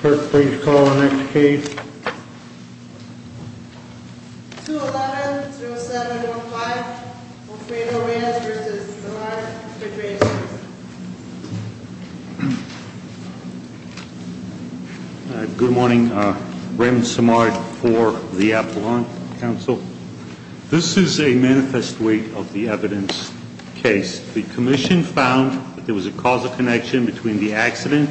Kurt, please call the next case. 2-11-07-15, Montrejo Rams v. Samard. Good morning. Raymond Samard for the Appalachian Council. This is a manifest way of the evidence case. The commission found that there was a causal connection between the accident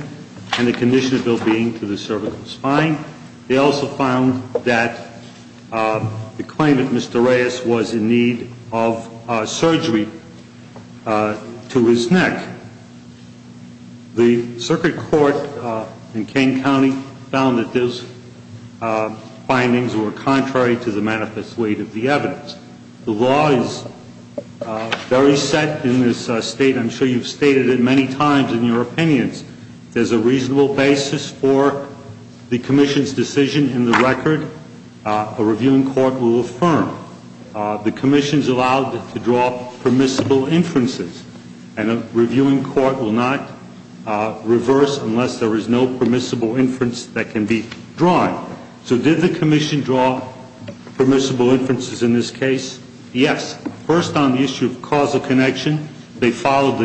and the condition of ill-being to the cervical spine. They also found that the claimant, Mr. Reyes, was in need of surgery to his neck. The circuit court in Kane County found that those findings were contrary to the manifest way of the evidence. The law is very set in this state. I'm sure you've stated it many times in your opinions. There's a reasonable basis for the commission's decision in the record. A reviewing court will affirm. The commission's allowed to draw permissible inferences. And a reviewing court will not reverse unless there is no permissible inference that can be drawn. So did the commission draw permissible inferences in this case? Yes. First on the issue of causal connection, they followed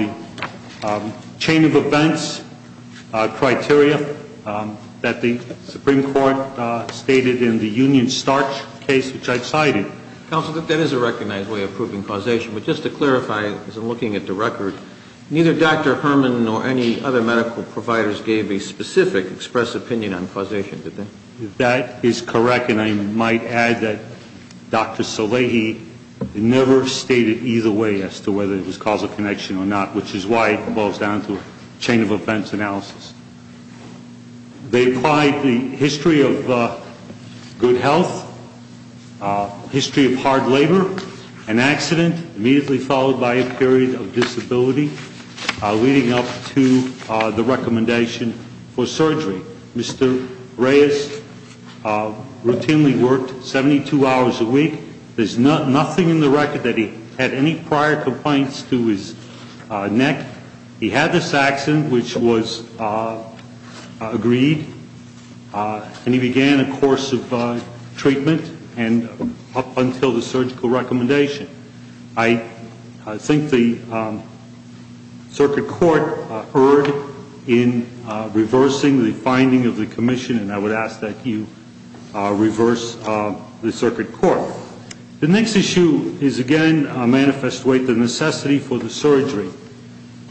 the chain of events criteria that the Supreme Court stated in the Union Starch case, which I've cited. Counsel, that is a recognized way of proving causation. But just to clarify, as I'm looking at the record, neither Dr. Herman nor any other medical providers gave a specific express opinion on causation, did they? That is correct. And I might add that Dr. Salehi never stated either way as to whether it was causal connection or not, which is why it falls down to a chain of events analysis. They applied the history of good health, history of hard labor, an accident immediately followed by a period of disability, leading up to the recommendation for surgery. Mr. Reyes routinely worked 72 hours a week. There's nothing in the record that he had any prior complaints to his neck. He had this accident, which was agreed, and he began a course of treatment and up until the surgical recommendation. I think the circuit court erred in reversing the finding of the commission, and I would ask that you reverse the circuit court. The next issue is, again, a manifest way, the necessity for the surgery.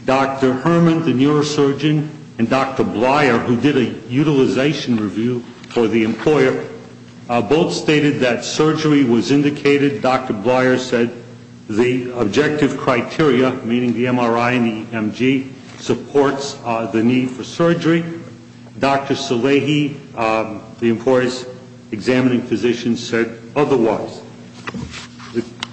Dr. Herman, the neurosurgeon, and Dr. Bleier, who did a utilization review for the employer, both stated that surgery was indicated. Dr. Bleier said the objective criteria, meaning the MRI and the EMG, supports the need for surgery. Dr. Salehi, the employer's examining physician, said otherwise.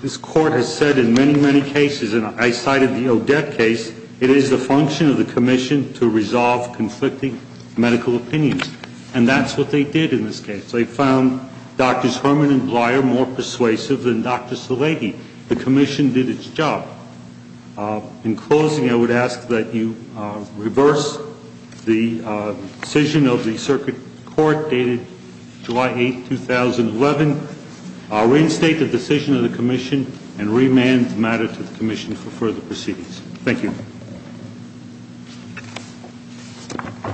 This Court has said in many, many cases, and I cited the Odette case, it is the function of the commission to resolve conflicting medical opinions. And that's what they did in this case. They found Drs. Herman and Bleier more persuasive than Dr. Salehi. The commission did its job. In closing, I would ask that you reverse the decision of the circuit court dated July 8, 2011, reinstate the decision of the commission, and remand the matter to the commission for further proceedings. Thank you. Thank you.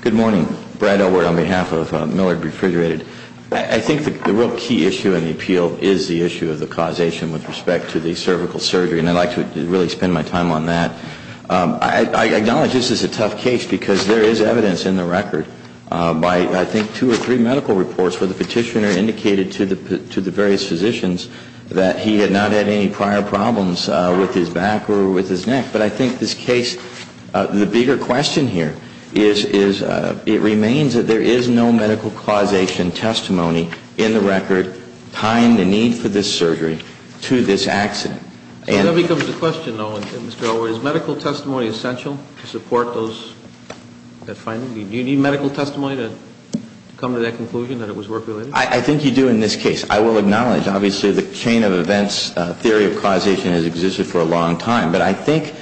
Good morning. Brad Elward on behalf of Millard Refrigerated. I think the real key issue in the appeal is the issue of the causation with respect to the cervical surgery, and I'd like to really spend my time on that. I acknowledge this is a tough case because there is evidence in the record by, I think, two or three medical reports where the petitioner indicated to the various physicians that he had not had any prior problems with his back or with his neck. But I think this case, the bigger question here is, it remains that there is no medical causation testimony in the record tying the need for this surgery to this accident. That becomes the question, though, Mr. Elward. Is medical testimony essential to support those findings? Do you need medical testimony to come to that conclusion that it was work-related? I think you do in this case. I will acknowledge, obviously, the chain of events theory of causation has existed for a long time. But I think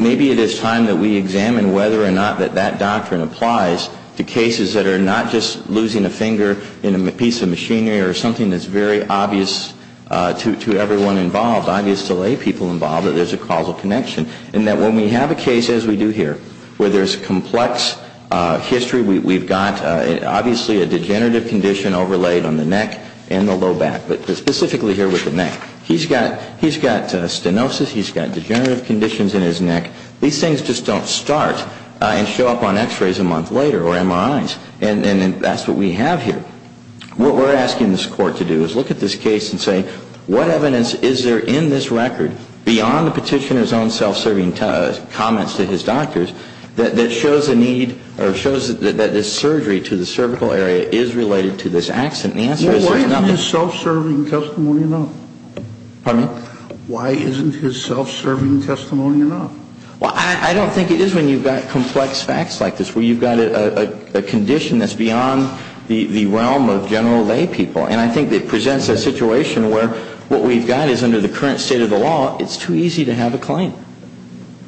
maybe it is time that we examine whether or not that that doctrine applies to cases that are not just losing a finger in a piece of machinery or something that's very obvious to everyone involved, obvious to lay people involved, that there's a causal connection. And that when we have a case, as we do here, where there's complex history, we've got obviously a degenerative condition overlaid on the neck and the low back, but specifically here with the neck. He's got stenosis. He's got degenerative conditions in his neck. These things just don't start and show up on x-rays a month later or MRIs. And that's what we have here. What we're asking this Court to do is look at this case and say, what evidence is there in this record, beyond the petitioner's own self-serving comments to his doctors, that shows a need or shows that this surgery to the cervical area is related to this accident? And the answer is there's nothing. Why isn't his self-serving testimony enough? Pardon me? Why isn't his self-serving testimony enough? Well, I don't think it is when you've got complex facts like this, where you've got a condition that's beyond the realm of general lay people. And I think it presents a situation where what we've got is under the current state of the law, it's too easy to have a claim.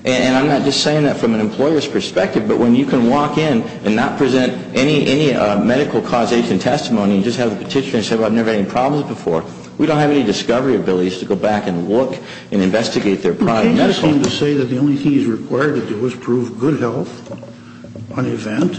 And I'm not just saying that from an employer's perspective, but when you can walk in and not present any medical causation testimony and just have the petitioner say, well, I've never had any problems before, we don't have any discovery abilities to go back and look and investigate their prior medical. You're saying to say that the only thing he's required to do is prove good health on event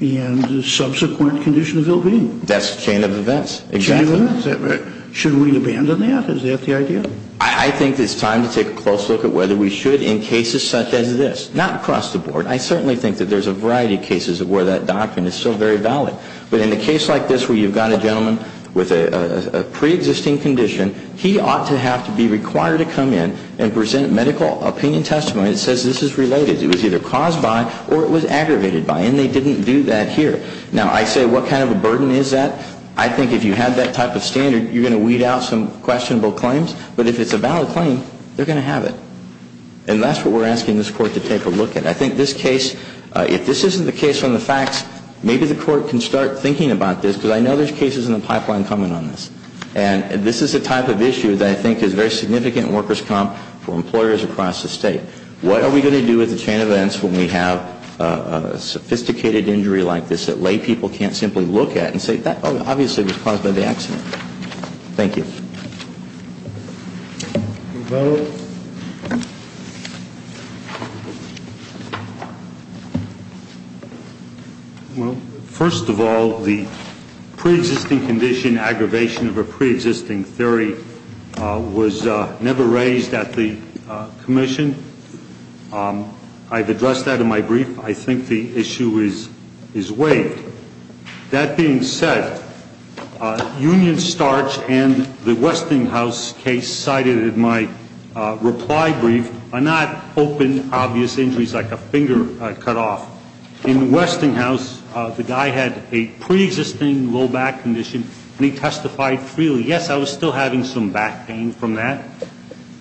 and subsequent condition of ill-being. That's a chain of events. Chain of events? Is that right? Should we abandon that? Is that the idea? I think it's time to take a close look at whether we should in cases such as this. Not across the board. I certainly think that there's a variety of cases where that doctrine is still very valid. But in a case like this where you've got a gentleman with a preexisting condition, he ought to have to be required to come in and present medical opinion testimony that says this is related. It was either caused by or it was aggravated by, and they didn't do that here. Now, I say what kind of a burden is that? I think if you have that type of standard, you're going to weed out some questionable claims. But if it's a valid claim, they're going to have it. And that's what we're asking this Court to take a look at. I think this case, if this isn't the case on the facts, maybe the Court can start thinking about this because I know there's cases in the pipeline coming on this. And this is a type of issue that I think is very significant in workers' comp for employers across the state. What are we going to do with the chain of events when we have a sophisticated injury like this that laypeople can't simply look at and say, oh, obviously it was caused by the accident? Thank you. Any further? Well, first of all, the preexisting condition, aggravation of a preexisting theory, was never raised at the commission. I've addressed that in my brief. I think the issue is waived. That being said, Union Starch and the Westinghouse case cited in my reply brief are not open, obvious injuries like a finger cut off. In Westinghouse, the guy had a preexisting low back condition, and he testified freely, yes, I was still having some back pain from that.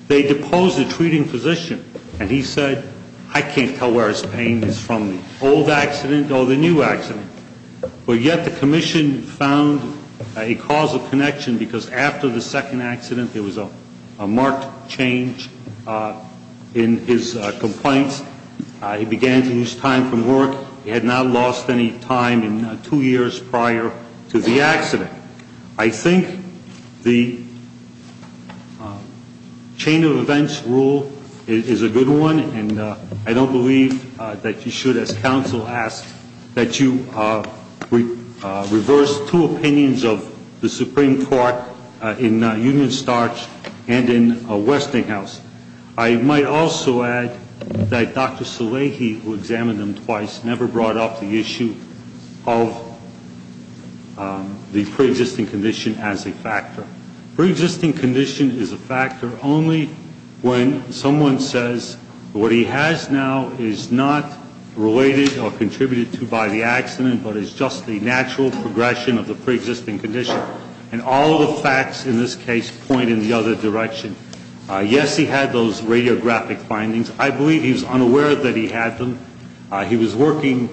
They deposed the treating physician, and he said, I can't tell where his pain is from the old accident or the new accident. But yet the commission found a causal connection because after the second accident, there was a marked change in his complaints. He began to lose time from work. He had not lost any time in two years prior to the accident. I think the chain of events rule is a good one, and I don't believe that you should, as counsel asked, that you reverse two opinions of the Supreme Court in Union Starch and in Westinghouse. I might also add that Dr. Salehi, who examined him twice, never brought up the issue of the preexisting condition as a factor. Preexisting condition is a factor only when someone says what he has now is not related or contributed to by the accident but is just the natural progression of the preexisting condition, and all the facts in this case point in the other direction. Yes, he had those radiographic findings. I believe he was unaware that he had them. He was working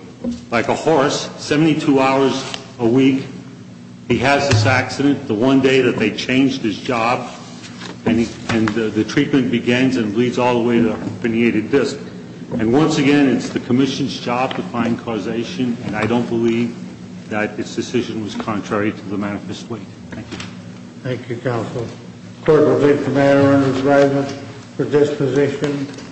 like a horse, 72 hours a week. He has this accident. The one day that they changed his job, and the treatment begins and leads all the way to a herniated disc. And once again, it's the commission's job to find causation, and I don't believe that this decision was contrary to the manifest way. Thank you. Thank you, counsel. The court will leave the matter under review for disposition.